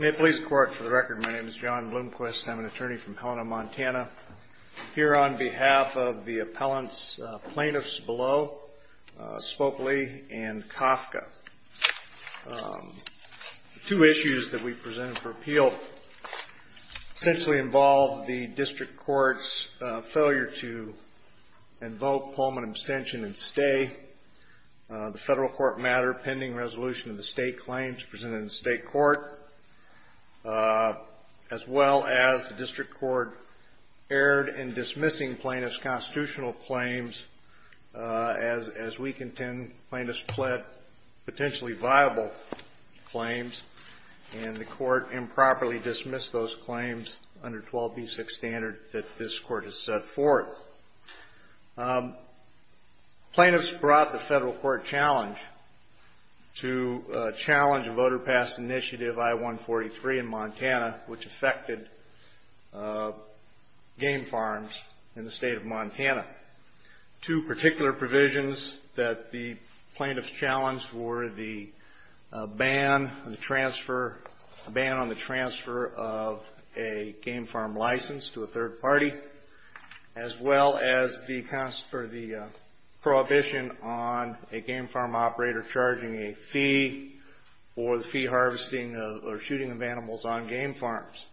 May it please the Court, for the record, my name is John Bloomquist. I'm an attorney from Helena, Montana. Here on behalf of the appellants, plaintiffs below, Spoklie and Kafka. The two issues that we presented for appeal essentially involved the District Court's failure to invoke Pullman abstention and stay. The federal court matter pending resolution of the state claims presented in the state court. As well as the District Court erred in dismissing plaintiff's constitutional claims as we contend plaintiffs pled potentially viable claims. And the court improperly dismissed those claims under 12b6 standard that this court has set forth. Plaintiffs brought the federal court challenge to challenge a voter pass initiative I-143 in Montana which affected game farms in the State of Montana. Two particular provisions that the plaintiffs challenged were the ban on the transfer of a game farm license to a third party. As well as the prohibition on a game farm operator charging a fee for the fee harvesting or shooting of animals on game farms.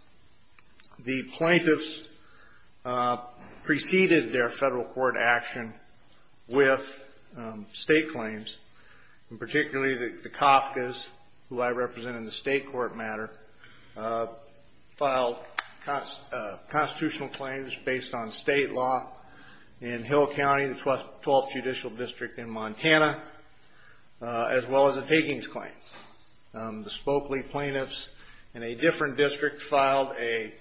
The plaintiffs preceded their federal court action with state claims. And particularly the Kafka's, who I represent in the state court matter, filed constitutional claims based on state law in Hill County, the 12th Judicial District in Montana. As well as a takings claim. The Spoklie plaintiffs in a different district filed a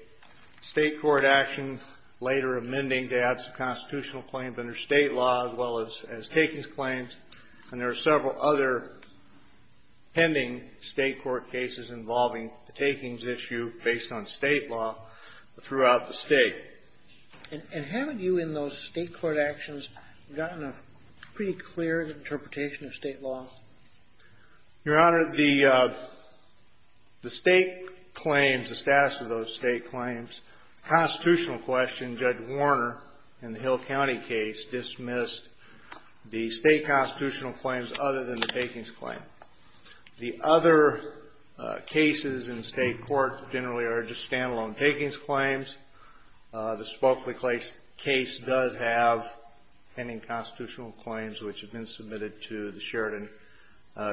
state court action later amending to add some constitutional claims under state law as well as takings claims. And there are several other pending state court cases involving the takings issue based on state law throughout the state. And haven't you in those state court actions gotten a pretty clear interpretation of state law? Your Honor, the state claims, the status of those state claims, constitutional question Judge Warner in the Hill County case dismissed the state constitutional claims other than the takings claim. The other cases in state court generally are just stand-alone takings claims. The Spoklie case does have pending constitutional claims which have been submitted to the Sheridan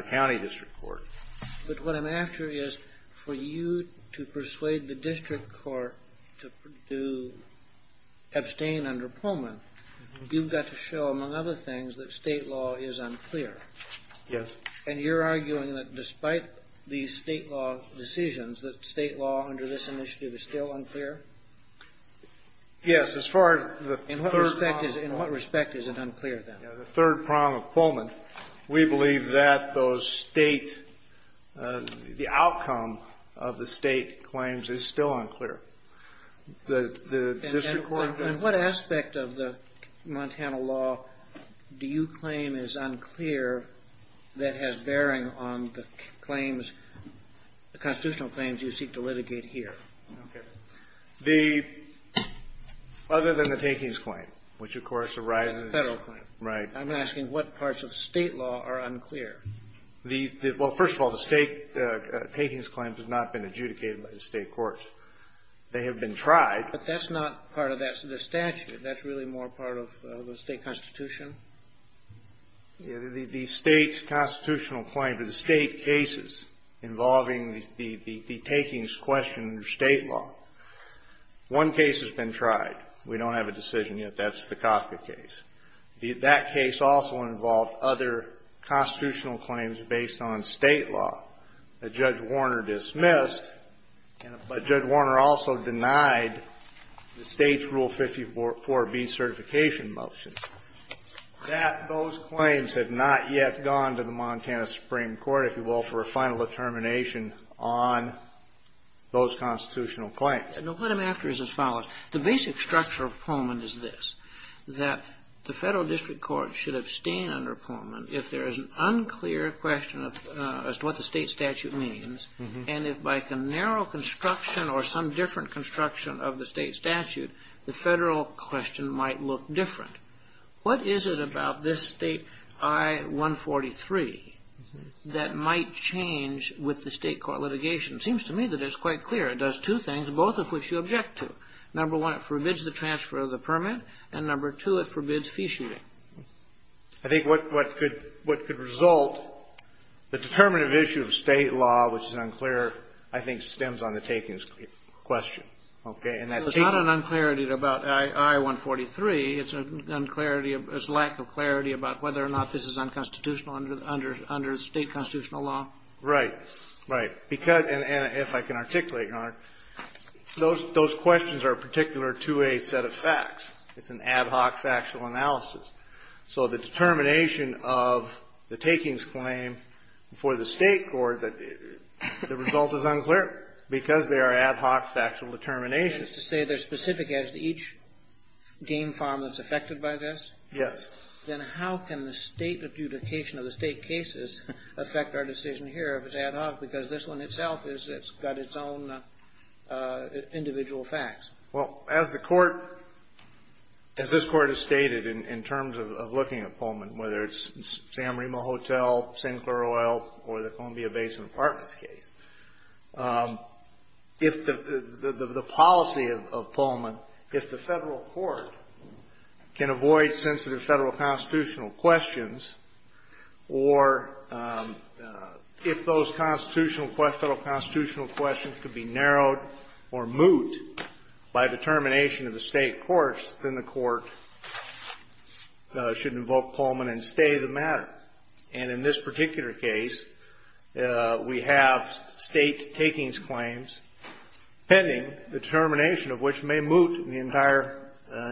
County District Court. But what I'm after is for you to persuade the district court to abstain under Pullman, you've got to show, among other things, that state law is unclear. Yes. And you're arguing that despite these state law decisions, that state law under this initiative is still unclear? Yes. In what respect is it unclear then? The third prong of Pullman. We believe that the outcome of the state claims is still unclear. And what aspect of the Montana law do you claim is unclear that has bearing on the claims, the constitutional claims you seek to litigate here? Okay. The, other than the takings claim, which of course arises. The federal claim. Right. I'm asking what parts of state law are unclear? Well, first of all, the state takings claim has not been adjudicated by the state courts. They have been tried. But that's not part of the statute. That's really more part of the state constitution? The state's constitutional claim to the state cases involving the takings question under state law. One case has been tried. We don't have a decision yet. That's the Coffman case. That case also involved other constitutional claims based on state law that Judge Warner dismissed. But Judge Warner also denied the state's Rule 54B certification motion. That, those claims have not yet gone to the Montana Supreme Court, if you will, for a final determination on those constitutional claims. What I'm after is as follows. The basic structure of Pullman is this. That the federal district court should abstain under Pullman if there is an unclear question as to what the state statute means. And if by a narrow construction or some different construction of the state statute, the federal question might look different. What is it about this state I-143 that might change with the state court litigation? It seems to me that it's quite clear. It does two things, both of which you object to. Number one, it forbids the transfer of the permit. And number two, it forbids fee shooting. I think what could result, the determinative issue of state law, which is unclear, I think, stems on the takings question. Okay? It's not an unclarity about I-143. It's a lack of clarity about whether or not this is unconstitutional under state constitutional law. Right. Right. And if I can articulate, Your Honor, those questions are particular to a set of facts. It's an ad hoc factual analysis. So the determination of the takings claim for the state court, the result is unclear because they are ad hoc factual determinations. That is to say they're specific as to each game farm that's affected by this? Yes. Then how can the state adjudication of the state cases affect our decision here if it's ad hoc, because this one itself has got its own individual facts? Well, as the Court — as this Court has stated in terms of looking at Pullman, whether it's San Marino Hotel, Sinclair Oil, or the Columbia Basin Apartments case, if the policy of Pullman, if the Federal court can avoid sensitive Federal constitutional questions, or if those constitutional questions, Federal constitutional questions could be narrowed or moot by determination of the state courts, then the court should invoke Pullman and stay the matter. And in this particular case, we have state takings claims pending, the determination of which may moot the entire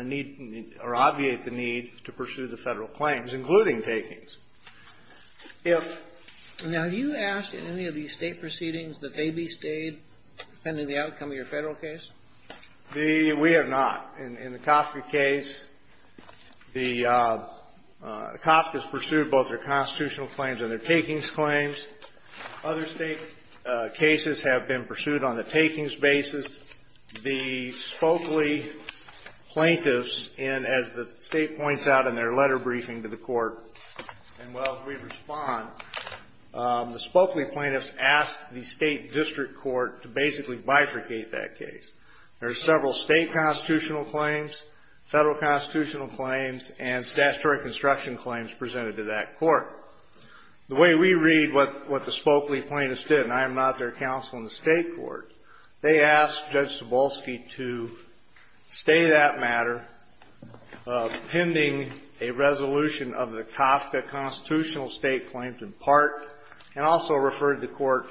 need or obviate the need to pursue the Federal claims, including takings. If — Now, have you asked in any of these state proceedings that they be stayed, depending on the outcome of your Federal case? We have not. In the Kafka case, the — Kafka's pursued both their constitutional claims and their takings claims. Other state cases have been pursued on the takings basis. The Spokley plaintiffs in — as the State points out in their letter briefing to the Court, and while we respond, the Spokley plaintiffs asked the State district court to basically bifurcate that case. There are several State constitutional claims, Federal constitutional claims, and statutory construction claims presented to that court. The way we read what — what the Spokley plaintiffs did, and I am not their counsel in the State court, they asked Judge Cebulski to stay that matter pending a resolution of the Kafka constitutional state claims in part, and also referred the court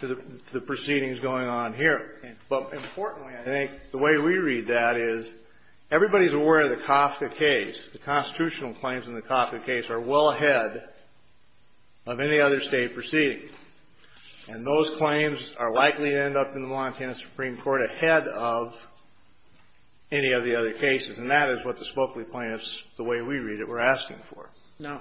to the proceedings going on here. But importantly, I think, the way we read that is everybody is aware of the Kafka case. The constitutional claims in the Kafka case are well ahead of any other State proceeding. And those claims are likely to end up in the Montana Supreme Court ahead of any of the other cases. And that is what the Spokley plaintiffs, the way we read it, were asking for. Now,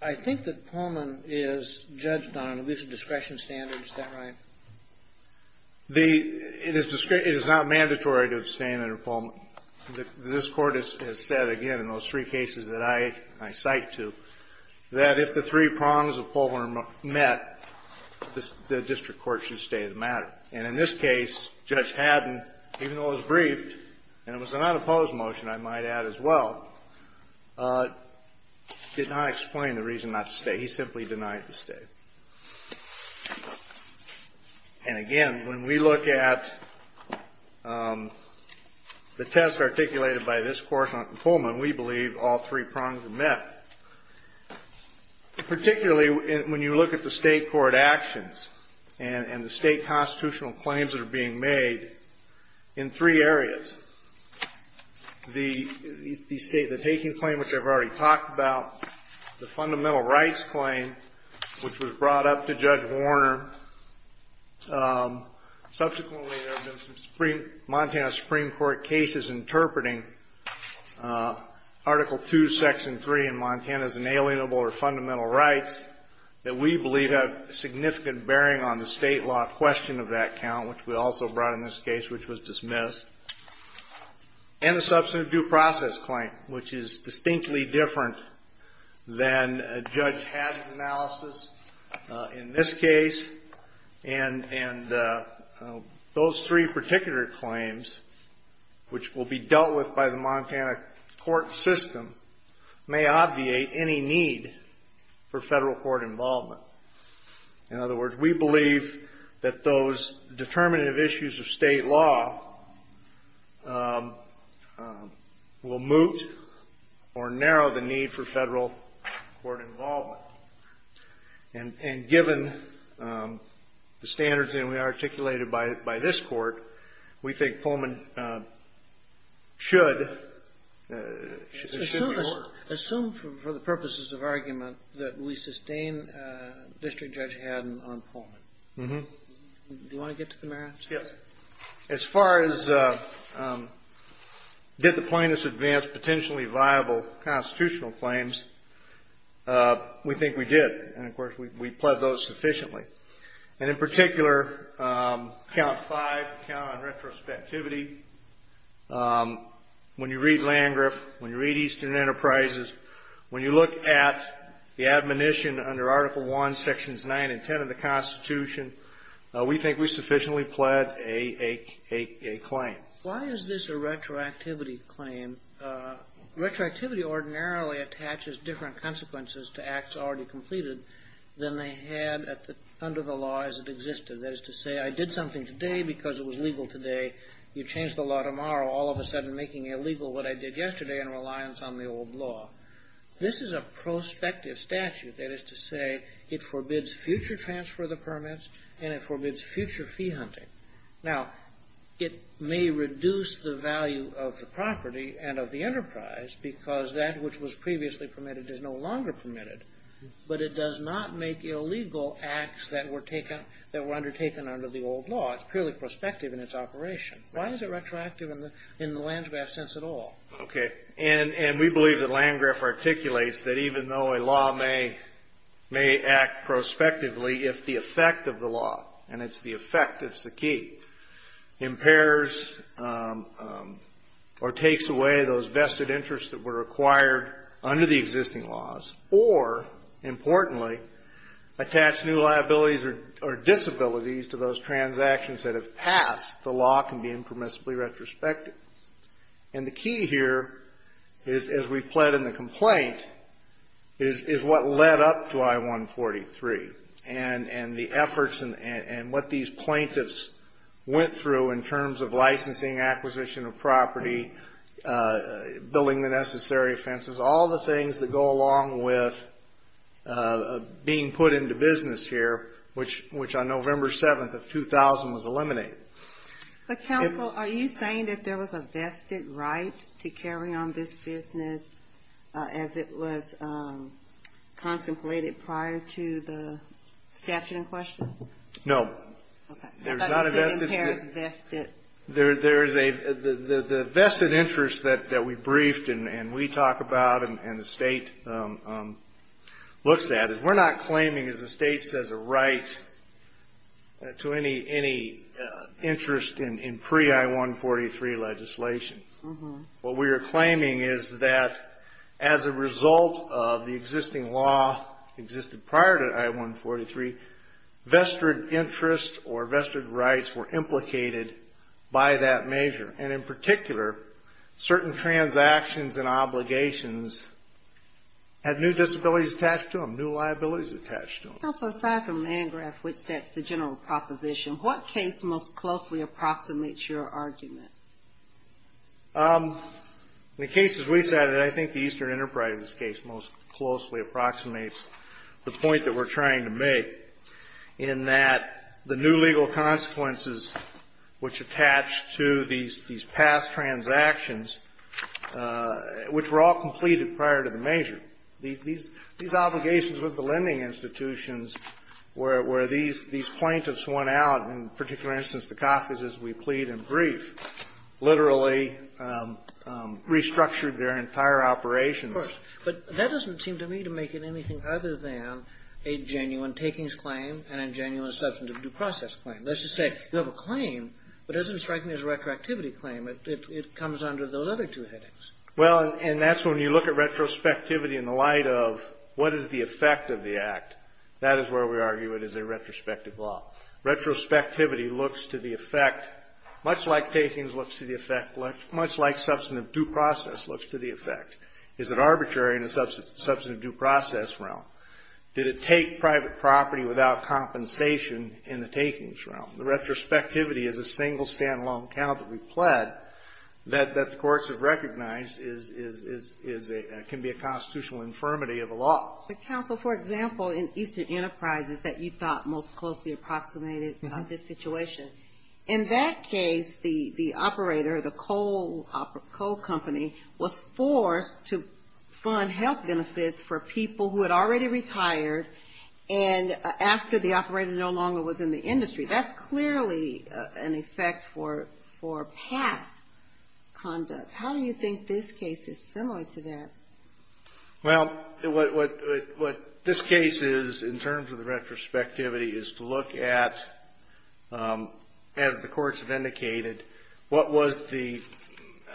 I think that Pullman is judged on at least a discretion standard. Is that right? The — it is not mandatory to abstain under Pullman. This Court has said, again, in those three cases that I cite to, that if the three prongs of Pullman are met, the district court should stay the matter. And in this case, Judge Haddon, even though it was briefed, and it was an unopposed motion, I might add as well, did not explain the reason not to stay. He simply denied to stay. And again, when we look at the test articulated by this Court on Pullman, we believe all three prongs are met, particularly when you look at the State court actions and the State constitutional claims that are being made in three areas. The State, the taking claim, which I've already talked about, the fundamental rights claim, which was brought up to Judge Warner. Subsequently, there have been some Supreme — Montana Supreme Court cases interpreting Article II, Section 3 in Montana's inalienable or fundamental rights that we believe have significant bearing on the State law question of that count, which we also brought up in this case, which was dismissed. And the substantive due process claim, which is distinctly different than Judge Haddon's analysis in this case. And those three particular claims, which will be dealt with by the Montana court system, may obviate any need for Federal court involvement. In other words, we believe that those determinative issues of State law will moot or narrow the need for Federal court involvement. And given the standards that we articulated by this Court, we think Pullman should be more. Assume for the purposes of argument that we sustain District Judge Haddon on Pullman. Mm-hmm. Do you want to get to the merits? Yeah. As far as did the plaintiffs advance potentially viable constitutional claims, we think we did. And, of course, we pled those sufficiently. And in particular, count five, count on retrospectivity, when you read Landgraf, when you read Eastern Enterprises, when you look at the admonition under Article I, Sections 9 and 10 of the Constitution, we think we sufficiently pled a claim. Why is this a retroactivity claim? Retroactivity ordinarily attaches different consequences to acts already completed than they had under the law as it existed. That is to say, I did something today because it was legal today. You change the law tomorrow, all of a sudden making illegal what I did yesterday in reliance on the old law. This is a prospective statute. That is to say, it forbids future transfer of the permits, and it forbids future fee hunting. Now, it may reduce the value of the property and of the enterprise because that which was previously permitted is no longer permitted. But it does not make illegal acts that were undertaken under the old law. It's purely prospective in its operation. Why is it retroactive in the Landgraf sense at all? Okay. And we believe that Landgraf articulates that even though a law may act prospectively, if the effect of the law, and it's the effect that's the key, impairs or takes away those or, importantly, attach new liabilities or disabilities to those transactions that have passed, the law can be impermissibly retrospective. And the key here is, as we've pled in the complaint, is what led up to I-143 and the efforts and what these plaintiffs went through in terms of licensing, acquisition of property, building the necessary fences, all the things that go along with being put into business here, which on November 7th of 2000 was eliminated. But, counsel, are you saying that there was a vested right to carry on this business as it was contemplated prior to the statute in question? No. Okay. There's not a vested right. There is a vested interest that we briefed and we talk about and the State looks at. We're not claiming, as the State says, a right to any interest in pre-I-143 legislation. What we are claiming is that as a result of the existing law existed prior to I-143, vested interest or vested rights were implicated by that measure. And in particular, certain transactions and obligations had new disabilities attached to them, new liabilities attached to them. Counsel, aside from Landgraf, which sets the general proposition, what case most closely approximates your argument? In the cases we cited, I think the Eastern Enterprises case most closely approximates the point that we're trying to make in that the new legal consequences which attach to these past transactions, which were all completed prior to the measure, these obligations with the lending institutions where these plaintiffs went out, in particular instance, the coffers as we plead and brief, literally restructured their entire operations. Of course. But that doesn't seem to me to make it anything other than a genuine takings claim and a genuine substantive due process claim. Let's just say you have a claim, but as in striking this retroactivity claim, it comes under those other two headings. Well, and that's when you look at retrospectivity in the light of what is the effect of the act, that is where we argue it is a retrospective law. Retrospectivity looks to the effect, much like takings looks to the effect, much like substantive due process looks to the effect. Is it arbitrary in a substantive due process realm? Did it take private property without compensation in the takings realm? The retrospectivity is a single stand-alone count that we've pled that the courts have recognized can be a constitutional infirmity of a law. The counsel, for example, in Eastern Enterprises that you thought most closely approximated this situation, in that case, the operator, the coal company, was forced to fund health benefits for people who had already retired and after the operator no longer was in the industry. That's clearly an effect for past conduct. How do you think this case is similar to that? Well, what this case is, in terms of the retrospectivity, is to look at, as the courts have indicated, what was the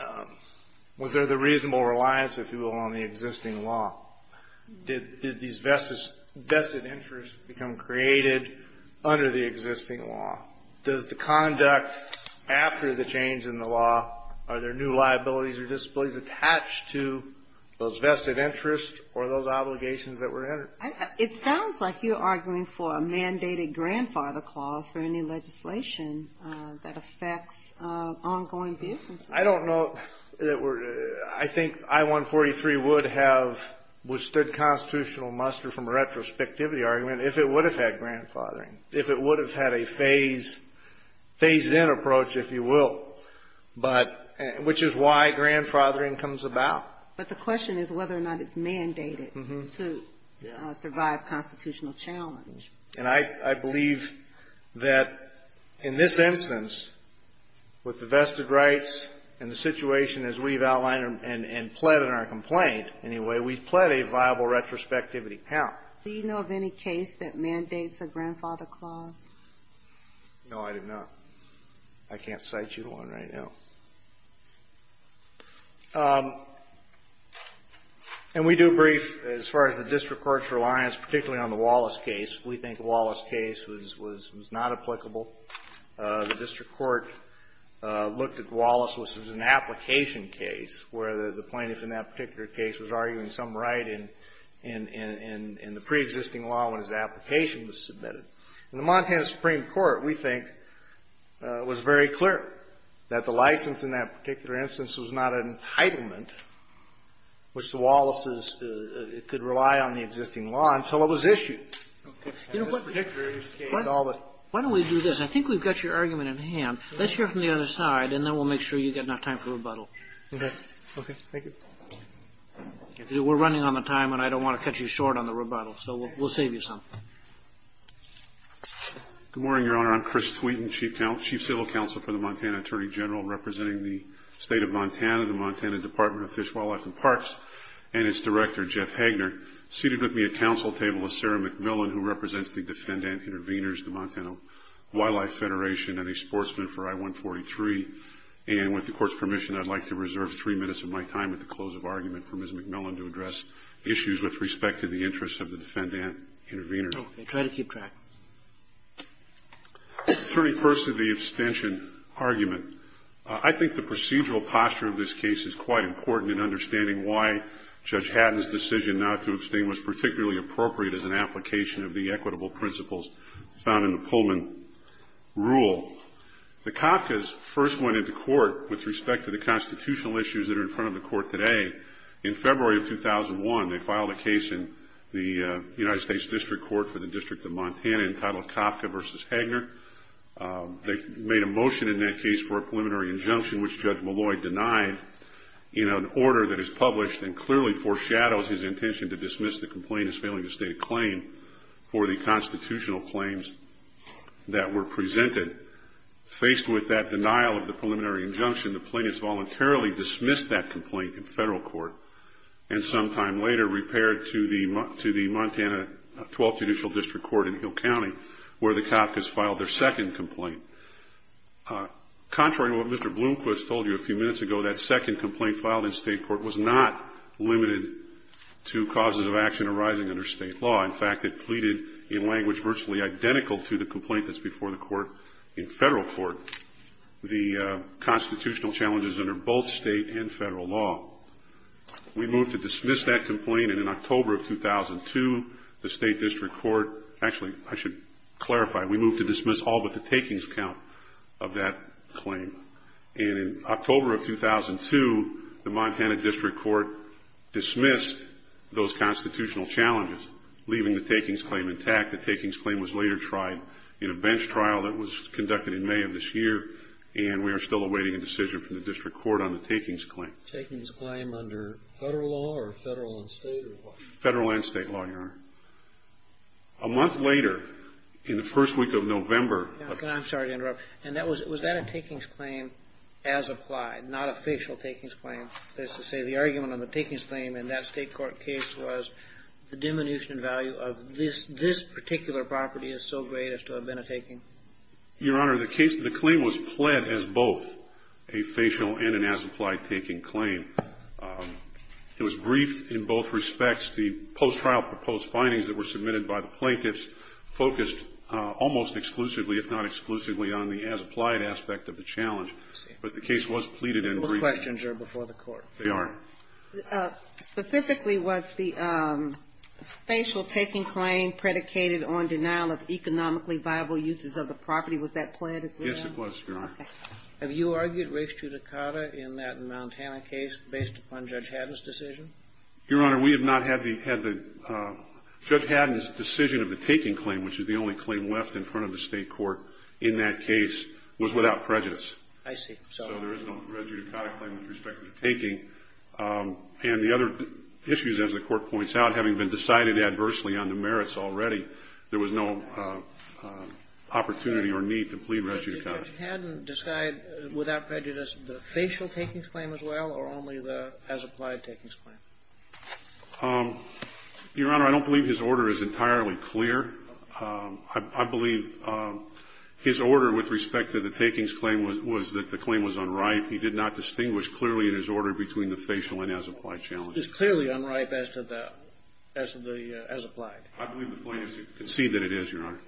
– was there the reasonable reliance, if you will, on the existing law? Did these vested interests become created under the existing law? Does the conduct after the change in the law, are there new liabilities or disabilities attached to those vested interests or those obligations that were added? It sounds like you're arguing for a mandated grandfather clause for any legislation that affects ongoing business. I don't know that we're – I think I-143 would have withstood constitutional muster from a retrospectivity argument if it would have had grandfathering, if it would have had a phase-in approach, if you will, but – which is why grandfathering comes about. But the question is whether or not it's mandated to survive constitutional challenge. And I believe that in this instance, with the vested rights and the situation as we've outlined and pled in our complaint, anyway, we've pled a viable retrospectivity count. Do you know of any case that mandates a grandfather clause? No, I do not. I can't cite you one right now. And we do brief as far as the district court's reliance particularly on the Wallace case. We think the Wallace case was not applicable. The district court looked at Wallace as an application case where the plaintiff in that particular case was arguing some right in the preexisting law when his application was submitted. And the Montana Supreme Court, we think, was very clear that the license in that particular instance was not an entitlement which the Wallaces could rely on the existing law until it was issued. Okay. In this particular case, all the – Why don't we do this? I think we've got your argument in hand. Let's hear from the other side, and then we'll make sure you get enough time for rebuttal. Okay. Okay. Thank you. We're running on the time, and I don't want to cut you short on the rebuttal, so we'll save you some. Good morning, Your Honor. I'm Chris Thweton, Chief Civil Counsel for the Montana Attorney General, representing the State of Montana, the Montana Department of Fish, Wildlife, and Parks, and its Director, Jeff Hagner. Seated with me at council table is Sarah McMillan, who represents the Defendant Intervenors, the Montana Wildlife Federation, and a sportsman for I-143. And with the Court's permission, I'd like to reserve three minutes of my time at the close of argument for Ms. McMillan to address issues with respect to the interests of the Defendant Intervenors. Okay. Try to keep track. Turning first to the abstention argument, I think the procedural posture of this case is quite important in understanding why Judge Hatton's decision not to abstain was particularly appropriate as an application of the equitable principles found in the Pullman Rule. The Kafkas first went into court with respect to the constitutional issues that are in front of the Court today. In February of 2001, they filed a case in the United States District Court for the District of Montana entitled Kafka v. Hagner. They made a motion in that case for a preliminary injunction, which Judge Molloy denied. In an order that is published and clearly foreshadows his intention to dismiss the complainant's failing to state a claim for the constitutional claims that were presented, faced with that denial of the preliminary injunction, the plaintiff voluntarily dismissed that complaint in federal court and sometime later repaired to the Montana 12th Judicial District Court in Hill County where the Kafkas filed their second complaint. Contrary to what Mr. Bloomquist told you a few minutes ago, that second complaint filed in state court was not limited to causes of action arising under state law. In fact, it pleaded in language virtually identical to the complaint that's before the court in federal court. The constitutional challenges under both state and federal law. We moved to dismiss that complaint and in October of 2002, the State District Court, actually I should clarify, we moved to dismiss all but the takings count of that claim. And in October of 2002, the Montana District Court dismissed those constitutional challenges, leaving the takings claim intact. The takings claim was later tried in a bench trial that was conducted in May of this year and we are still awaiting a decision from the District Court on the takings claim. Takings claim under federal law or federal and state law? Federal and state law, Your Honor. A month later, in the first week of November. I'm sorry to interrupt. Was that a takings claim as applied, not a facial takings claim? Let's just say the argument on the takings claim in that state court case was the This particular property is so great as to have been a taking. Your Honor, the case, the claim was pled as both a facial and an as-applied taking claim. It was briefed in both respects. The post-trial proposed findings that were submitted by the plaintiffs focused almost exclusively, if not exclusively, on the as-applied aspect of the challenge, but the case was pleaded and briefed. Those questions are before the court. They are. Specifically, was the facial taking claim predicated on denial of economically viable uses of the property? Was that pled as well? Yes, it was, Your Honor. Okay. Have you argued res judicata in that Montana case based upon Judge Haddon's decision? Your Honor, we have not had the – had the – Judge Haddon's decision of the taking claim, which is the only claim left in front of the state court in that case, was without prejudice. I see. So there is no res judicata claim with respect to the taking. And the other issues, as the Court points out, having been decided adversely on the merits already, there was no opportunity or need to plead res judicata. Did Judge Haddon decide without prejudice the facial takings claim as well or only the as-applied takings claim? Your Honor, I don't believe his order is entirely clear. I believe his order with respect to the takings claim was that the claim was unripe. He did not distinguish clearly in his order between the facial and as-applied challenges. It's clearly unripe as to the – as to the as-applied. I believe the claim is to concede that it is, Your Honor.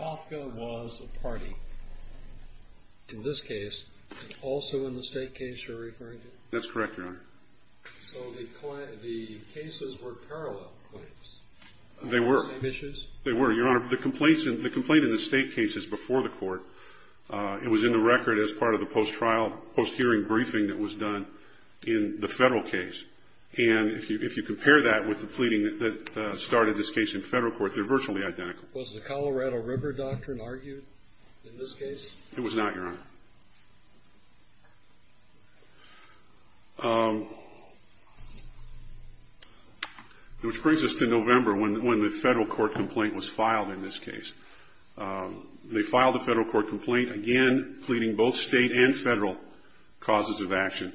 Hofka was a party in this case. Also in the state case you're referring to? That's correct, Your Honor. So the cases were parallel claims? They were. They were, Your Honor. The complaint in the state case is before the Court. It was in the record as part of the post-trial, post-hearing briefing that was done in the federal case. And if you compare that with the pleading that started this case in federal court, they're virtually identical. Was the Colorado River Doctrine argued in this case? It was not, Your Honor. Which brings us to November when the federal court complaint was filed in this case. They filed a federal court complaint, again, pleading both state and federal causes of action.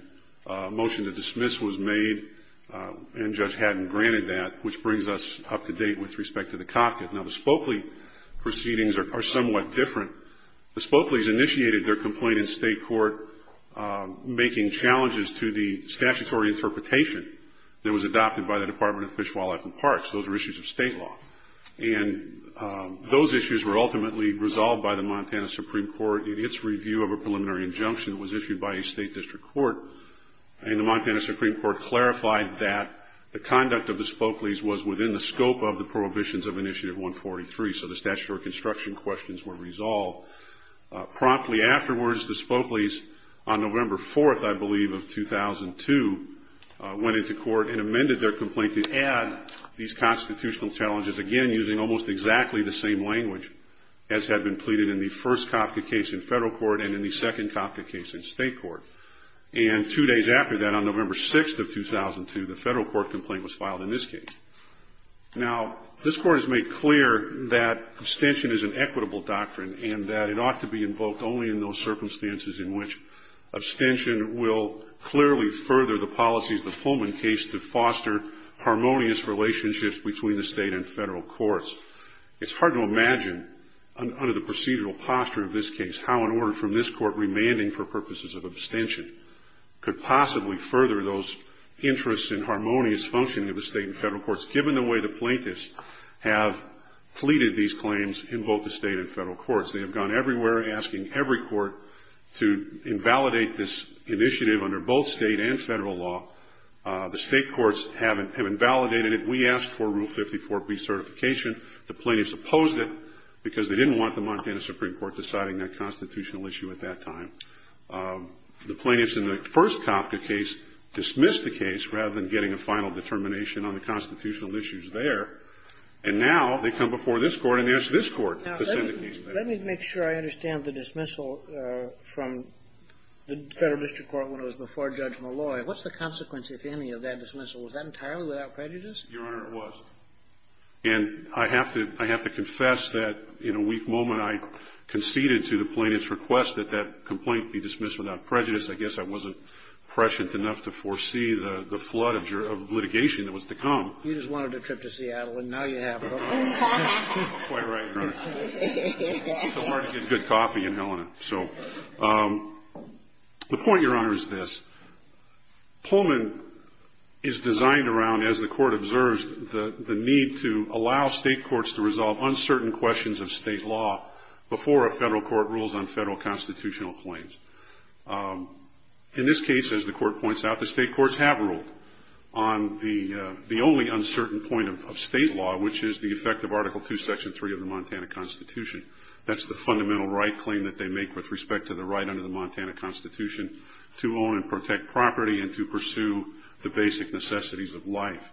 A motion to dismiss was made. And Judge Haddon granted that, which brings us up to date with respect to the Hofka. Now, the Spokley proceedings are somewhat different. The Spokleys initiated their complaint in state court. Making challenges to the statutory interpretation that was adopted by the Department of Fish, Wildlife, and Parks. Those are issues of state law. And those issues were ultimately resolved by the Montana Supreme Court in its review of a preliminary injunction. It was issued by a state district court. And the Montana Supreme Court clarified that the conduct of the Spokleys was within the scope of the prohibitions of Initiative 143. So the statutory construction questions were resolved. Promptly afterwards, the Spokleys, on November 4th, I believe, of 2002, went into court and amended their complaint to add these constitutional challenges, again, using almost exactly the same language as had been pleaded in the first Hofka case in federal court and in the second Hofka case in state court. And two days after that, on November 6th of 2002, the federal court complaint was filed in this case. Now, this court has made clear that abstention is an equitable doctrine and that it ought to be invoked only in those circumstances in which abstention will clearly further the policies of the Pullman case to foster harmonious relationships between the state and federal courts. It's hard to imagine, under the procedural posture of this case, how an order from this court remanding for purposes of abstention could possibly further those interests in harmonious functioning of the state and federal courts, given the way the plaintiffs have pleaded these claims in both the state and federal courts. They have gone everywhere asking every court to invalidate this initiative under both state and federal law. The state courts have invalidated it. We asked for Rule 54B certification. The plaintiffs opposed it because they didn't want the Montana Supreme Court deciding that constitutional issue at that time. The plaintiffs in the first Kafka case dismissed the case rather than getting a final determination on the constitutional issues there. And now they come before this Court and ask this Court to send the case back. Now, let me make sure I understand the dismissal from the Federal District Court when it was before Judge Malloy. What's the consequence, if any, of that dismissal? Was that entirely without prejudice? Your Honor, it was. And I have to confess that in a weak moment I conceded to the plaintiffs' request that that complaint be dismissed without prejudice. I guess I wasn't prescient enough to foresee the flood of litigation that was to come. You just wanted a trip to Seattle, and now you have it. Quite right, Your Honor. It's so hard to get good coffee in Helena. So the point, Your Honor, is this. Pullman is designed around, as the Court observes, the need to allow state courts to resolve uncertain questions of state law before a federal court rules on federal constitutional claims. In this case, as the Court points out, the state courts have ruled on the only uncertain point of state law, which is the effect of Article II, Section 3 of the Montana Constitution. That's the fundamental right claim that they make with respect to the right under the Montana Constitution to own and protect property and to pursue the basic necessities of life.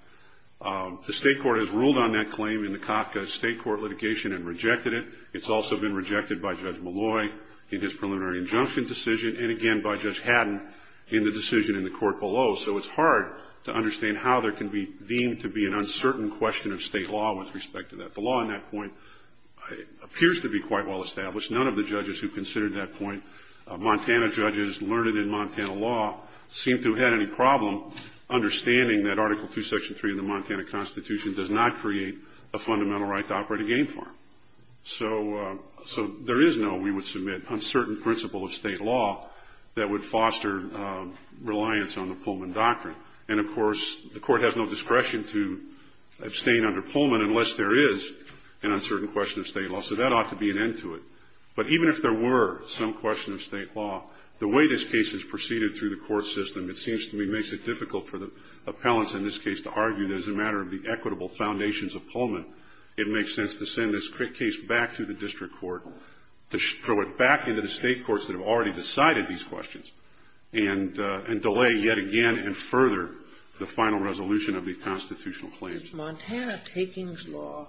The state court has ruled on that claim in the Kafka state court litigation and rejected it. It's also been rejected by Judge Malloy in his preliminary injunction decision, and again by Judge Haddon in the decision in the court below. So it's hard to understand how there can be deemed to be an uncertain question of state law with respect to that. The law on that point appears to be quite well established. None of the judges who considered that point, Montana judges learned in Montana law, seem to have had any problem understanding that Article II, Section 3 of the Montana Constitution does not create a fundamental right to operate a game farm. So there is no, we would submit, uncertain principle of state law that would foster reliance on the Pullman Doctrine. And, of course, the Court has no discretion to abstain under Pullman unless there is an uncertain question of state law. So that ought to be an end to it. But even if there were some question of state law, the way this case is proceeded through the court system, it seems to me makes it difficult for the appellants in this case to argue that as a matter of the equitable foundations of Pullman, it makes sense to send this case back to the district court, to throw it back into the state courts that have already decided these questions, and delay yet again and further the final resolution of the constitutional claims. Is Montana takings law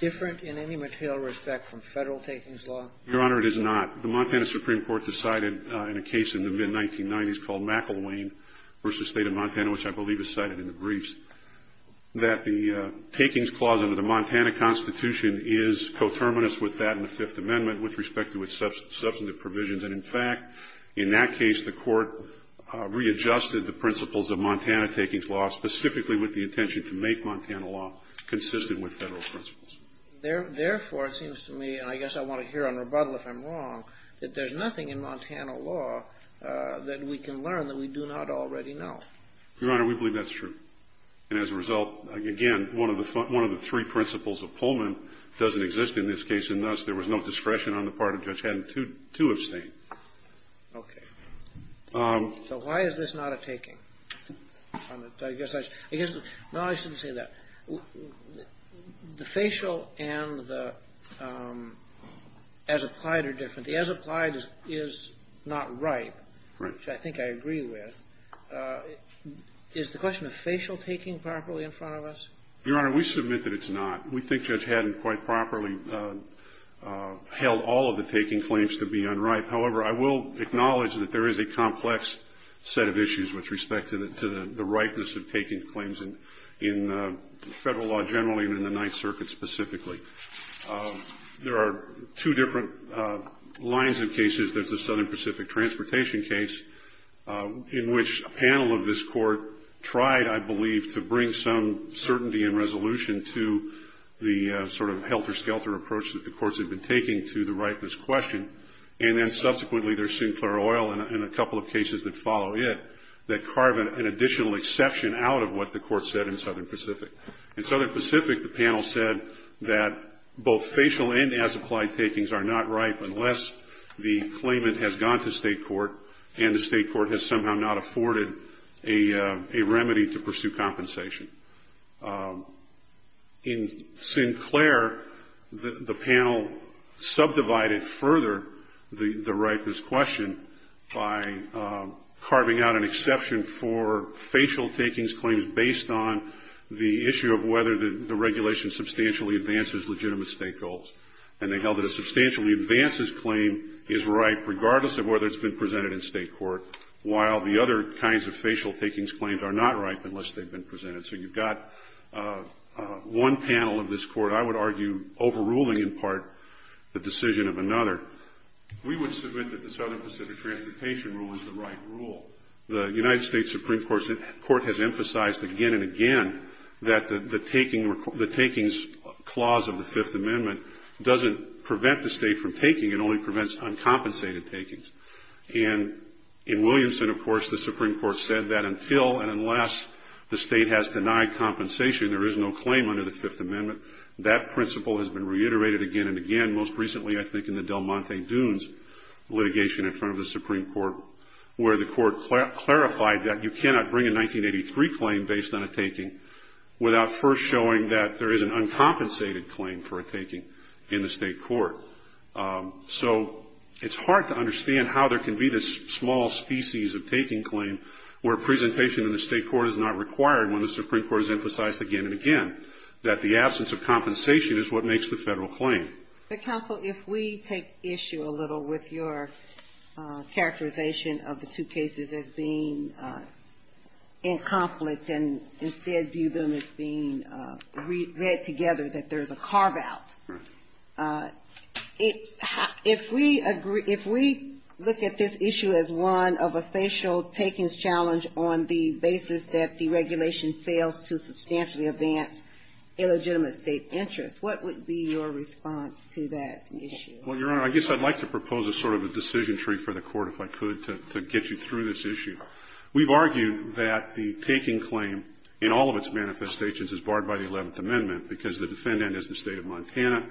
different in any material respect from Federal takings law? Your Honor, it is not. The Montana Supreme Court decided in a case in the mid-1990s called McIlwain v. State of Montana, which I believe is cited in the briefs, that the takings clause under the Montana Constitution is coterminous with that in the Fifth Amendment with respect to its substantive provisions. And, in fact, in that case, the Court readjusted the principles of Montana takings law, specifically with the intention to make Montana law consistent with Federal principles. Therefore, it seems to me, and I guess I want to hear a rebuttal if I'm wrong, that there's nothing in Montana law that we can learn that we do not already know. Your Honor, we believe that's true. And as a result, again, one of the three principles of Pullman doesn't exist in this case, and thus there was no discretion on the part of Judge Haddon to abstain. Okay. So why is this not a taking? I guess I should say that the facial and the as-applied are different. The as-applied is not ripe. Right. Which I think I agree with. Is the question of facial taking properly in front of us? Your Honor, we submit that it's not. We think Judge Haddon quite properly held all of the taking claims to be unripe. However, I will acknowledge that there is a complex set of issues with respect to the ripeness of taking claims in Federal law generally and in the Ninth Circuit specifically. There are two different lines of cases. There's the Southern Pacific transportation case, in which a panel of this Court tried, I believe, to bring some certainty and resolution to the sort of helter-skelter approach that the Courts had been taking to the ripeness question, and then subsequently there's Sinclair Oil and a couple of cases that follow it that carve an additional exception out of what the Court said in Southern Pacific. In Southern Pacific, the panel said that both facial and as-applied takings are not ripe unless the claimant has gone to State court and the State court has somehow not afforded a remedy to pursue compensation. In Sinclair, the panel subdivided further the ripeness question by carving out an exception for facial takings claims based on the issue of whether the regulation substantially advances legitimate State goals. And they held that a substantially advances claim is ripe regardless of whether it's been presented in State court, while the other kinds of facial takings claims are not ripe unless they've been presented. So you've got one panel of this Court, I would argue, overruling in part the decision of another. We would submit that the Southern Pacific transportation rule is the right rule. The United States Supreme Court has emphasized again and again that the takings clause of the Fifth Amendment doesn't prevent the State from taking, it only prevents uncompensated takings. And in Williamson, of course, the Supreme Court said that until and unless the State has denied compensation, there is no claim under the Fifth Amendment. That principle has been reiterated again and again, most recently I think in the Del Monte Dunes litigation in front of the Supreme Court, where the Court clarified that you cannot bring a 1983 claim based on a taking without first showing that there is an uncompensated claim for a taking in the State court. So it's hard to understand how there can be this small species of taking claim where presentation in the State court is not required when the Supreme Court has emphasized again and again that the absence of compensation is what makes the Federal claim. But, counsel, if we take issue a little with your characterization of the two cases as being in conflict and instead view them as being read together, that there's a carve-out. If we look at this issue as one of a facial takings challenge on the basis that the regulation fails to substantially advance illegitimate State interests, what would be your response to that issue? Well, Your Honor, I guess I'd like to propose a sort of a decision tree for the Court, if I could, to get you through this issue. We've argued that the taking claim in all of its manifestations is barred by the Eleventh Amendment because the defendant is the State of Montana,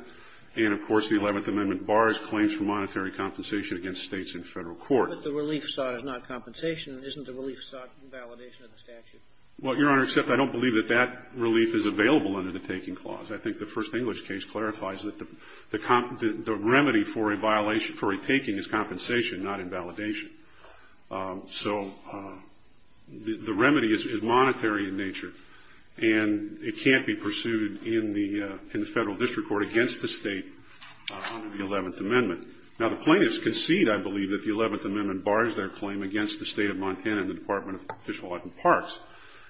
and, of course, the Eleventh Amendment bars claims for monetary compensation against States in Federal court. But the relief sought is not compensation. Isn't the relief sought in validation of the statute? Well, Your Honor, except I don't believe that that relief is available under the taking clause. I think the First English case clarifies that the remedy for a violation for a taking is compensation, not invalidation. So the remedy is monetary in nature, and it can't be pursued in the Federal district court against the State under the Eleventh Amendment. Now, the plaintiffs concede, I believe, that the Eleventh Amendment bars their claim against the State of Montana and the Department of Fish and Wildlife and Parks,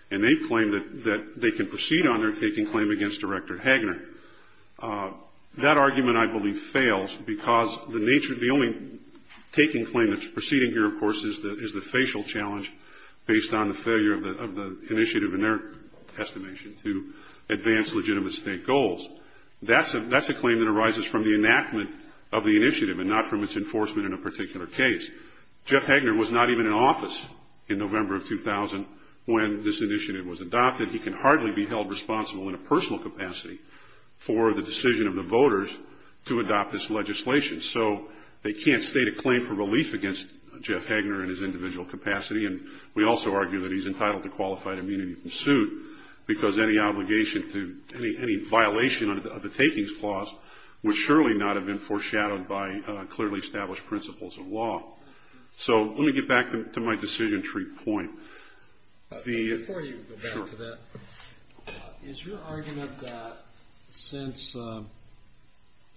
and they claim that they can proceed on their taking claim against Director Hagner. That argument, I believe, fails because the nature of the only taking claim that's proceeding here, of course, is the facial challenge based on the failure of the initiative in their estimation to advance legitimate State goals. That's a claim that arises from the enactment of the initiative and not from its enforcement in a particular case. Jeff Hagner was not even in office in November of 2000 when this initiative was adopted. We argue that he can hardly be held responsible in a personal capacity for the decision of the voters to adopt this legislation. So they can't state a claim for relief against Jeff Hagner in his individual capacity, and we also argue that he's entitled to qualified immunity from suit because any obligation to any violation of the takings clause would surely not have been foreshadowed by clearly established principles of law. So let me get back to my decision tree point. Before you go back to that, is your argument that since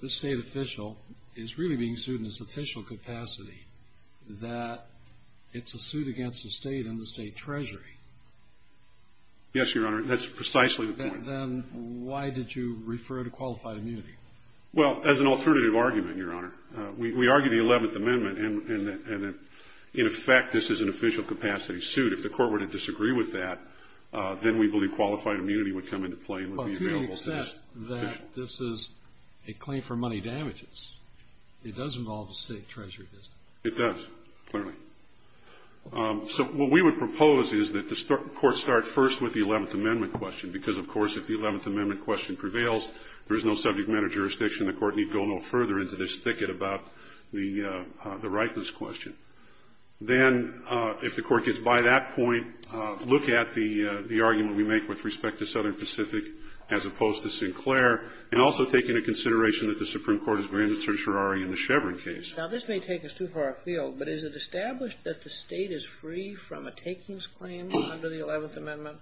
this State official is really being sued in its official capacity, that it's a suit against the State and the State Treasury? Yes, Your Honor. That's precisely the point. Then why did you refer to qualified immunity? Well, as an alternative argument, Your Honor. We argue the Eleventh Amendment and that, in effect, this is an official capacity suit. If the Court were to disagree with that, then we believe qualified immunity would come into play and would be available to this official. But to the extent that this is a claim for money damages, it does involve the State Treasury, doesn't it? It does, clearly. So what we would propose is that the Court start first with the Eleventh Amendment question because, of course, if the Eleventh Amendment question prevails, there is no subject matter jurisdiction. The Court need go no further into this thicket about the rightness question. Then, if the Court gets by that point, look at the argument we make with respect to Southern Pacific as opposed to Sinclair, and also take into consideration that the Supreme Court has granted certiorari in the Chevron case. Now, this may take us too far afield, but is it established that the State is free from a takings claim under the Eleventh Amendment?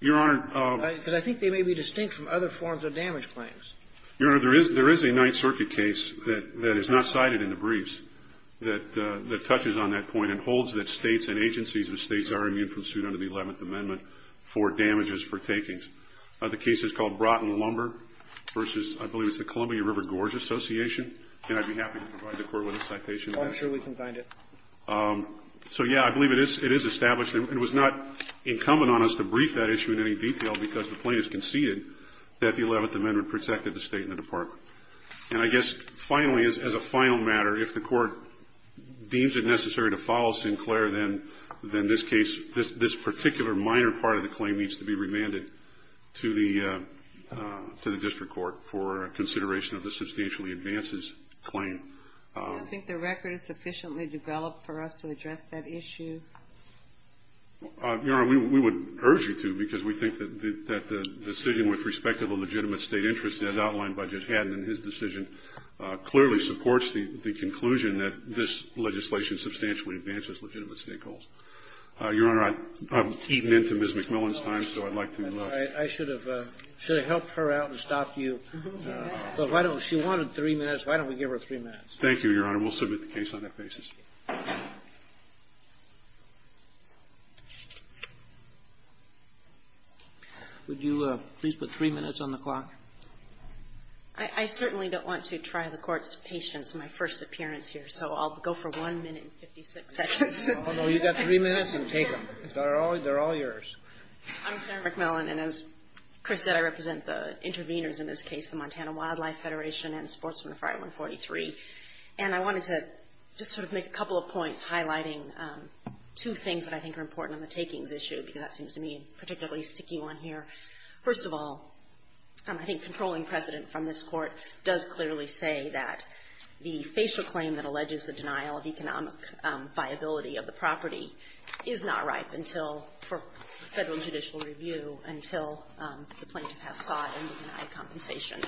Your Honor. Because I think they may be distinct from other forms of damage claims. Your Honor, there is a Ninth Circuit case that is not cited in the briefs that touches on that point and holds that States and agencies of the States are immune from suit under the Eleventh Amendment for damages for takings. The case is called Broughton Lumber v. I believe it's the Columbia River Gorge Association, and I'd be happy to provide the Court with a citation. Oh, I'm sure we can find it. So, yeah, I believe it is established. It was not incumbent on us to brief that issue in any detail because the plaintiff conceded that the Eleventh Amendment protected the State and the Department. And I guess, finally, as a final matter, if the Court deems it necessary to follow Sinclair, then this case, this particular minor part of the claim needs to be remanded to the district court for consideration of the substantially advances claim. Do you think the record is sufficiently developed for us to address that issue? Your Honor, we would urge you to because we think that the decision with respect to the legitimate State interest as outlined by Judge Haddon in his decision clearly supports the conclusion that this legislation substantially advances legitimate State goals. Your Honor, I'm eating into Ms. McMillan's time, so I'd like to move. I should have helped her out and stopped you. She wanted three minutes. Why don't we give her three minutes? Thank you, Your Honor. We'll submit the case on that basis. Would you please put three minutes on the clock? I certainly don't want to try the Court's patience on my first appearance here, so I'll go for one minute and 56 seconds. Oh, no. You've got three minutes and take them. They're all yours. I'm Sarah McMillan, and as Chris said, I represent the interveners in this case. The Montana Wildlife Federation and Sportsman of Fire 143. And I wanted to just sort of make a couple of points highlighting two things that I think are important on the takings issue because that seems to me particularly sticky one here. First of all, I think controlling precedent from this Court does clearly say that the facial claim that alleges the denial of economic viability of the property is not ripe until, for Federal judicial review, until the plaintiff has sought and denied compensation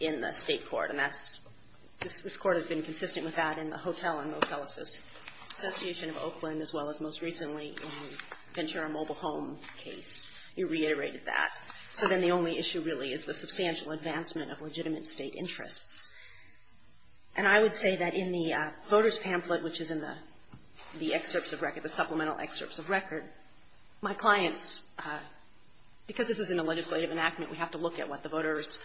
in the State court. And this Court has been consistent with that in the Hotel and Motel Association of Oakland, as well as most recently in the Ventura Mobile Home case. You reiterated that. So then the only issue really is the substantial advancement of legitimate State interests. And I would say that in the voters' pamphlet, which is in the excerpts of record, the supplemental excerpts of record, my clients, because this is in a legislative enactment, we have to look at what the voters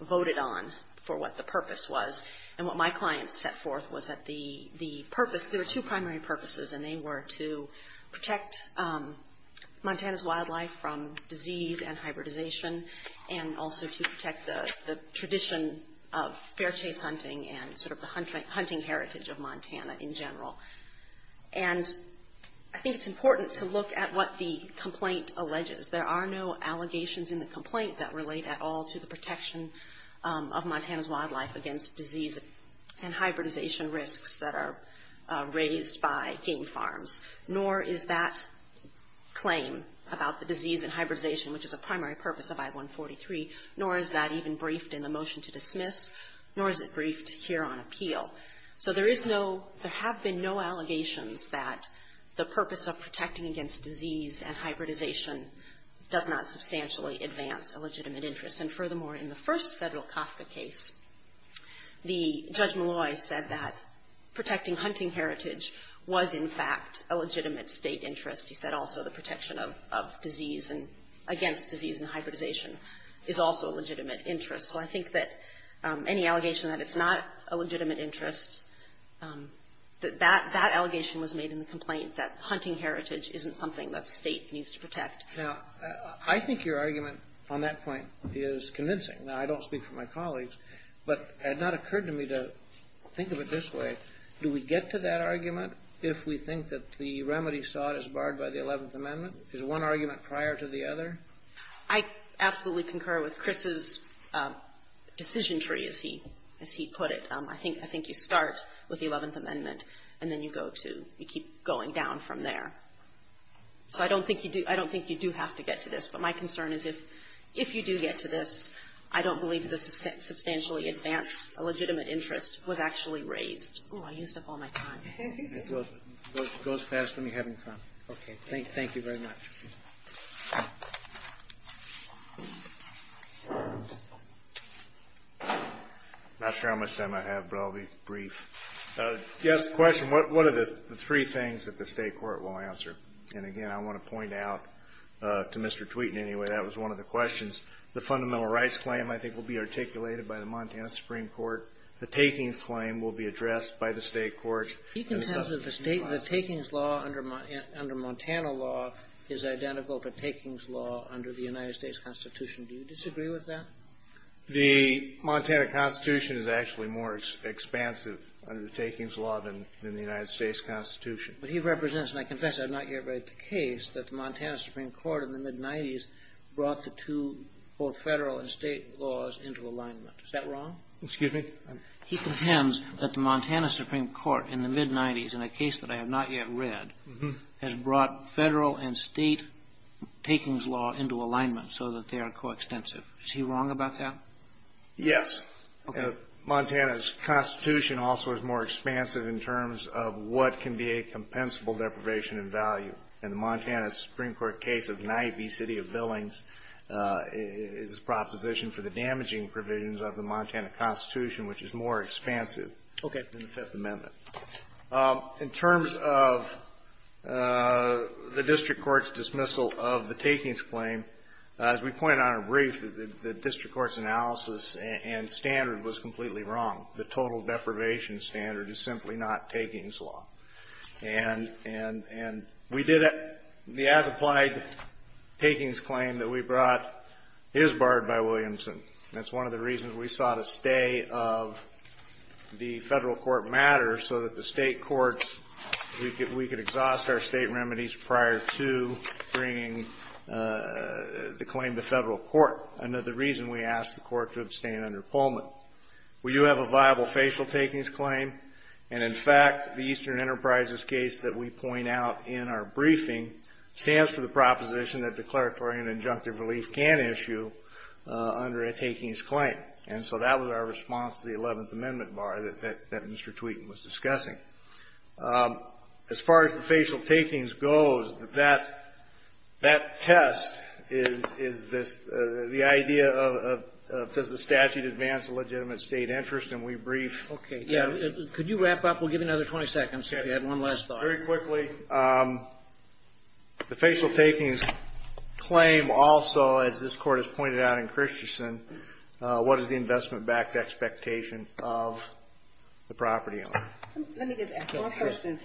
voted on for what the purpose was. And what my clients set forth was that the purpose, there were two primary purposes, and they were to protect Montana's wildlife from disease and hybridization and also to protect the tradition of bear chase hunting and sort of the hunting heritage of Montana in general. And I think it's important to look at what the complaint alleges. There are no allegations in the complaint that relate at all to the protection of Montana's wildlife against disease and hybridization risks that are raised by game farms, nor is that claim about the disease and hybridization, which is a primary purpose of I-143, nor is that even briefed in the motion to dismiss, nor is it briefed here on appeal. So there is no, there have been no allegations that the purpose of protecting against disease and hybridization does not substantially advance a legitimate interest. And furthermore, in the first federal Kafka case, the Judge Malloy said that protecting hunting heritage was in fact a legitimate state interest. He said also the protection of disease and, against disease and hybridization is also a legitimate interest. So I think that any allegation that it's not a legitimate interest, that that isn't something that the State needs to protect. Now, I think your argument on that point is convincing. Now, I don't speak for my colleagues, but it had not occurred to me to think of it this way. Do we get to that argument if we think that the remedy sought is barred by the Eleventh Amendment? Is one argument prior to the other? I absolutely concur with Chris's decision tree, as he put it. I think you start with the Eleventh Amendment, and then you go to, you keep going down from there. So I don't think you do have to get to this. But my concern is if you do get to this, I don't believe the substantially advance a legitimate interest was actually raised. Oh, I used up all my time. It goes fast when you're having fun. Okay, thank you very much. I'm not sure how much time I have, but I'll be brief. Yes, question. What are the three things that the State court will answer? And, again, I want to point out to Mr. Tweeton, anyway, that was one of the questions. The fundamental rights claim, I think, will be articulated by the Montana Supreme Court. The takings claim will be addressed by the State court. He contends that the takings law under Montana law is identical to takings law under the United States Constitution. Do you disagree with that? The Montana Constitution is actually more expansive under the takings law than the United States Constitution. But he represents, and I confess I have not yet read the case, that the Montana Supreme Court in the mid-'90s brought the two both Federal and State laws into alignment. Is that wrong? Excuse me? He contends that the Montana Supreme Court in the mid-'90s, in a case that I have not yet read, has brought Federal and State takings law into alignment so that they are coextensive. Is he wrong about that? Yes. Okay. Montana's Constitution also is more expansive in terms of what can be a compensable deprivation in value. And the Montana Supreme Court case of Niaby City of Billings is a proposition for the damaging provisions of the Montana Constitution, which is more expansive than the Fifth Amendment. Okay. In terms of the district court's dismissal of the takings claim, as we pointed out in brief, the district court's analysis and standard was completely wrong. The total deprivation standard is simply not takings law. And we did the as-applied takings claim that we brought is barred by Williamson. That's one of the reasons we sought a stay of the Federal court matters so that the State courts, we could exhaust our State remedies prior to bringing the claim to Federal court, another reason we asked the court to abstain under Pullman. We do have a viable facial takings claim. And, in fact, the Eastern Enterprises case that we point out in our briefing stands for the proposition that declaratory and injunctive relief can issue under a takings claim. And so that was our response to the Eleventh Amendment bar that Mr. Tweeton was discussing. As far as the facial takings goes, that test is this, the idea of does the statute advance a legitimate State interest, and we briefed them. Okay. Yeah. Could you wrap up? We'll give you another 20 seconds if you have one last thought. Okay. Very quickly, the facial takings claim also, as this Court has pointed out in Christensen, what is the investment-backed expectation of the property owner? Let me just ask one question.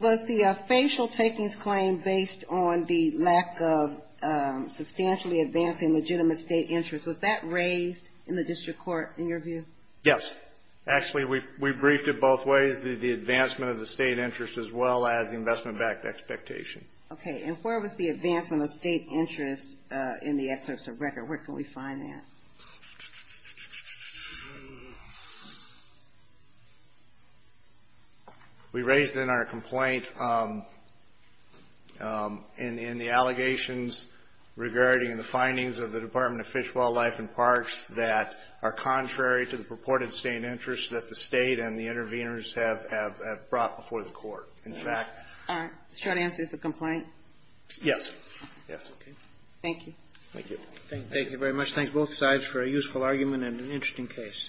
Was the facial takings claim based on the lack of substantially advancing legitimate State interest? Was that raised in the district court, in your view? Yes. Actually, we briefed it both ways, the advancement of the State interest as well as the investment-backed expectation. Okay. And where was the advancement of State interest in the excerpts of record? Where can we find that? We raised it in our complaint in the allegations regarding the findings of the Department of Fish, Wildlife, and Parks that are contrary to the purported State interest that the State and the interveners have brought before the Court. In fact ---- All right. The short answer is the complaint? Yes. Yes. Okay. Thank you. Thank you. Thank you very much. Thanks, both sides, for a useful argument and an interesting case.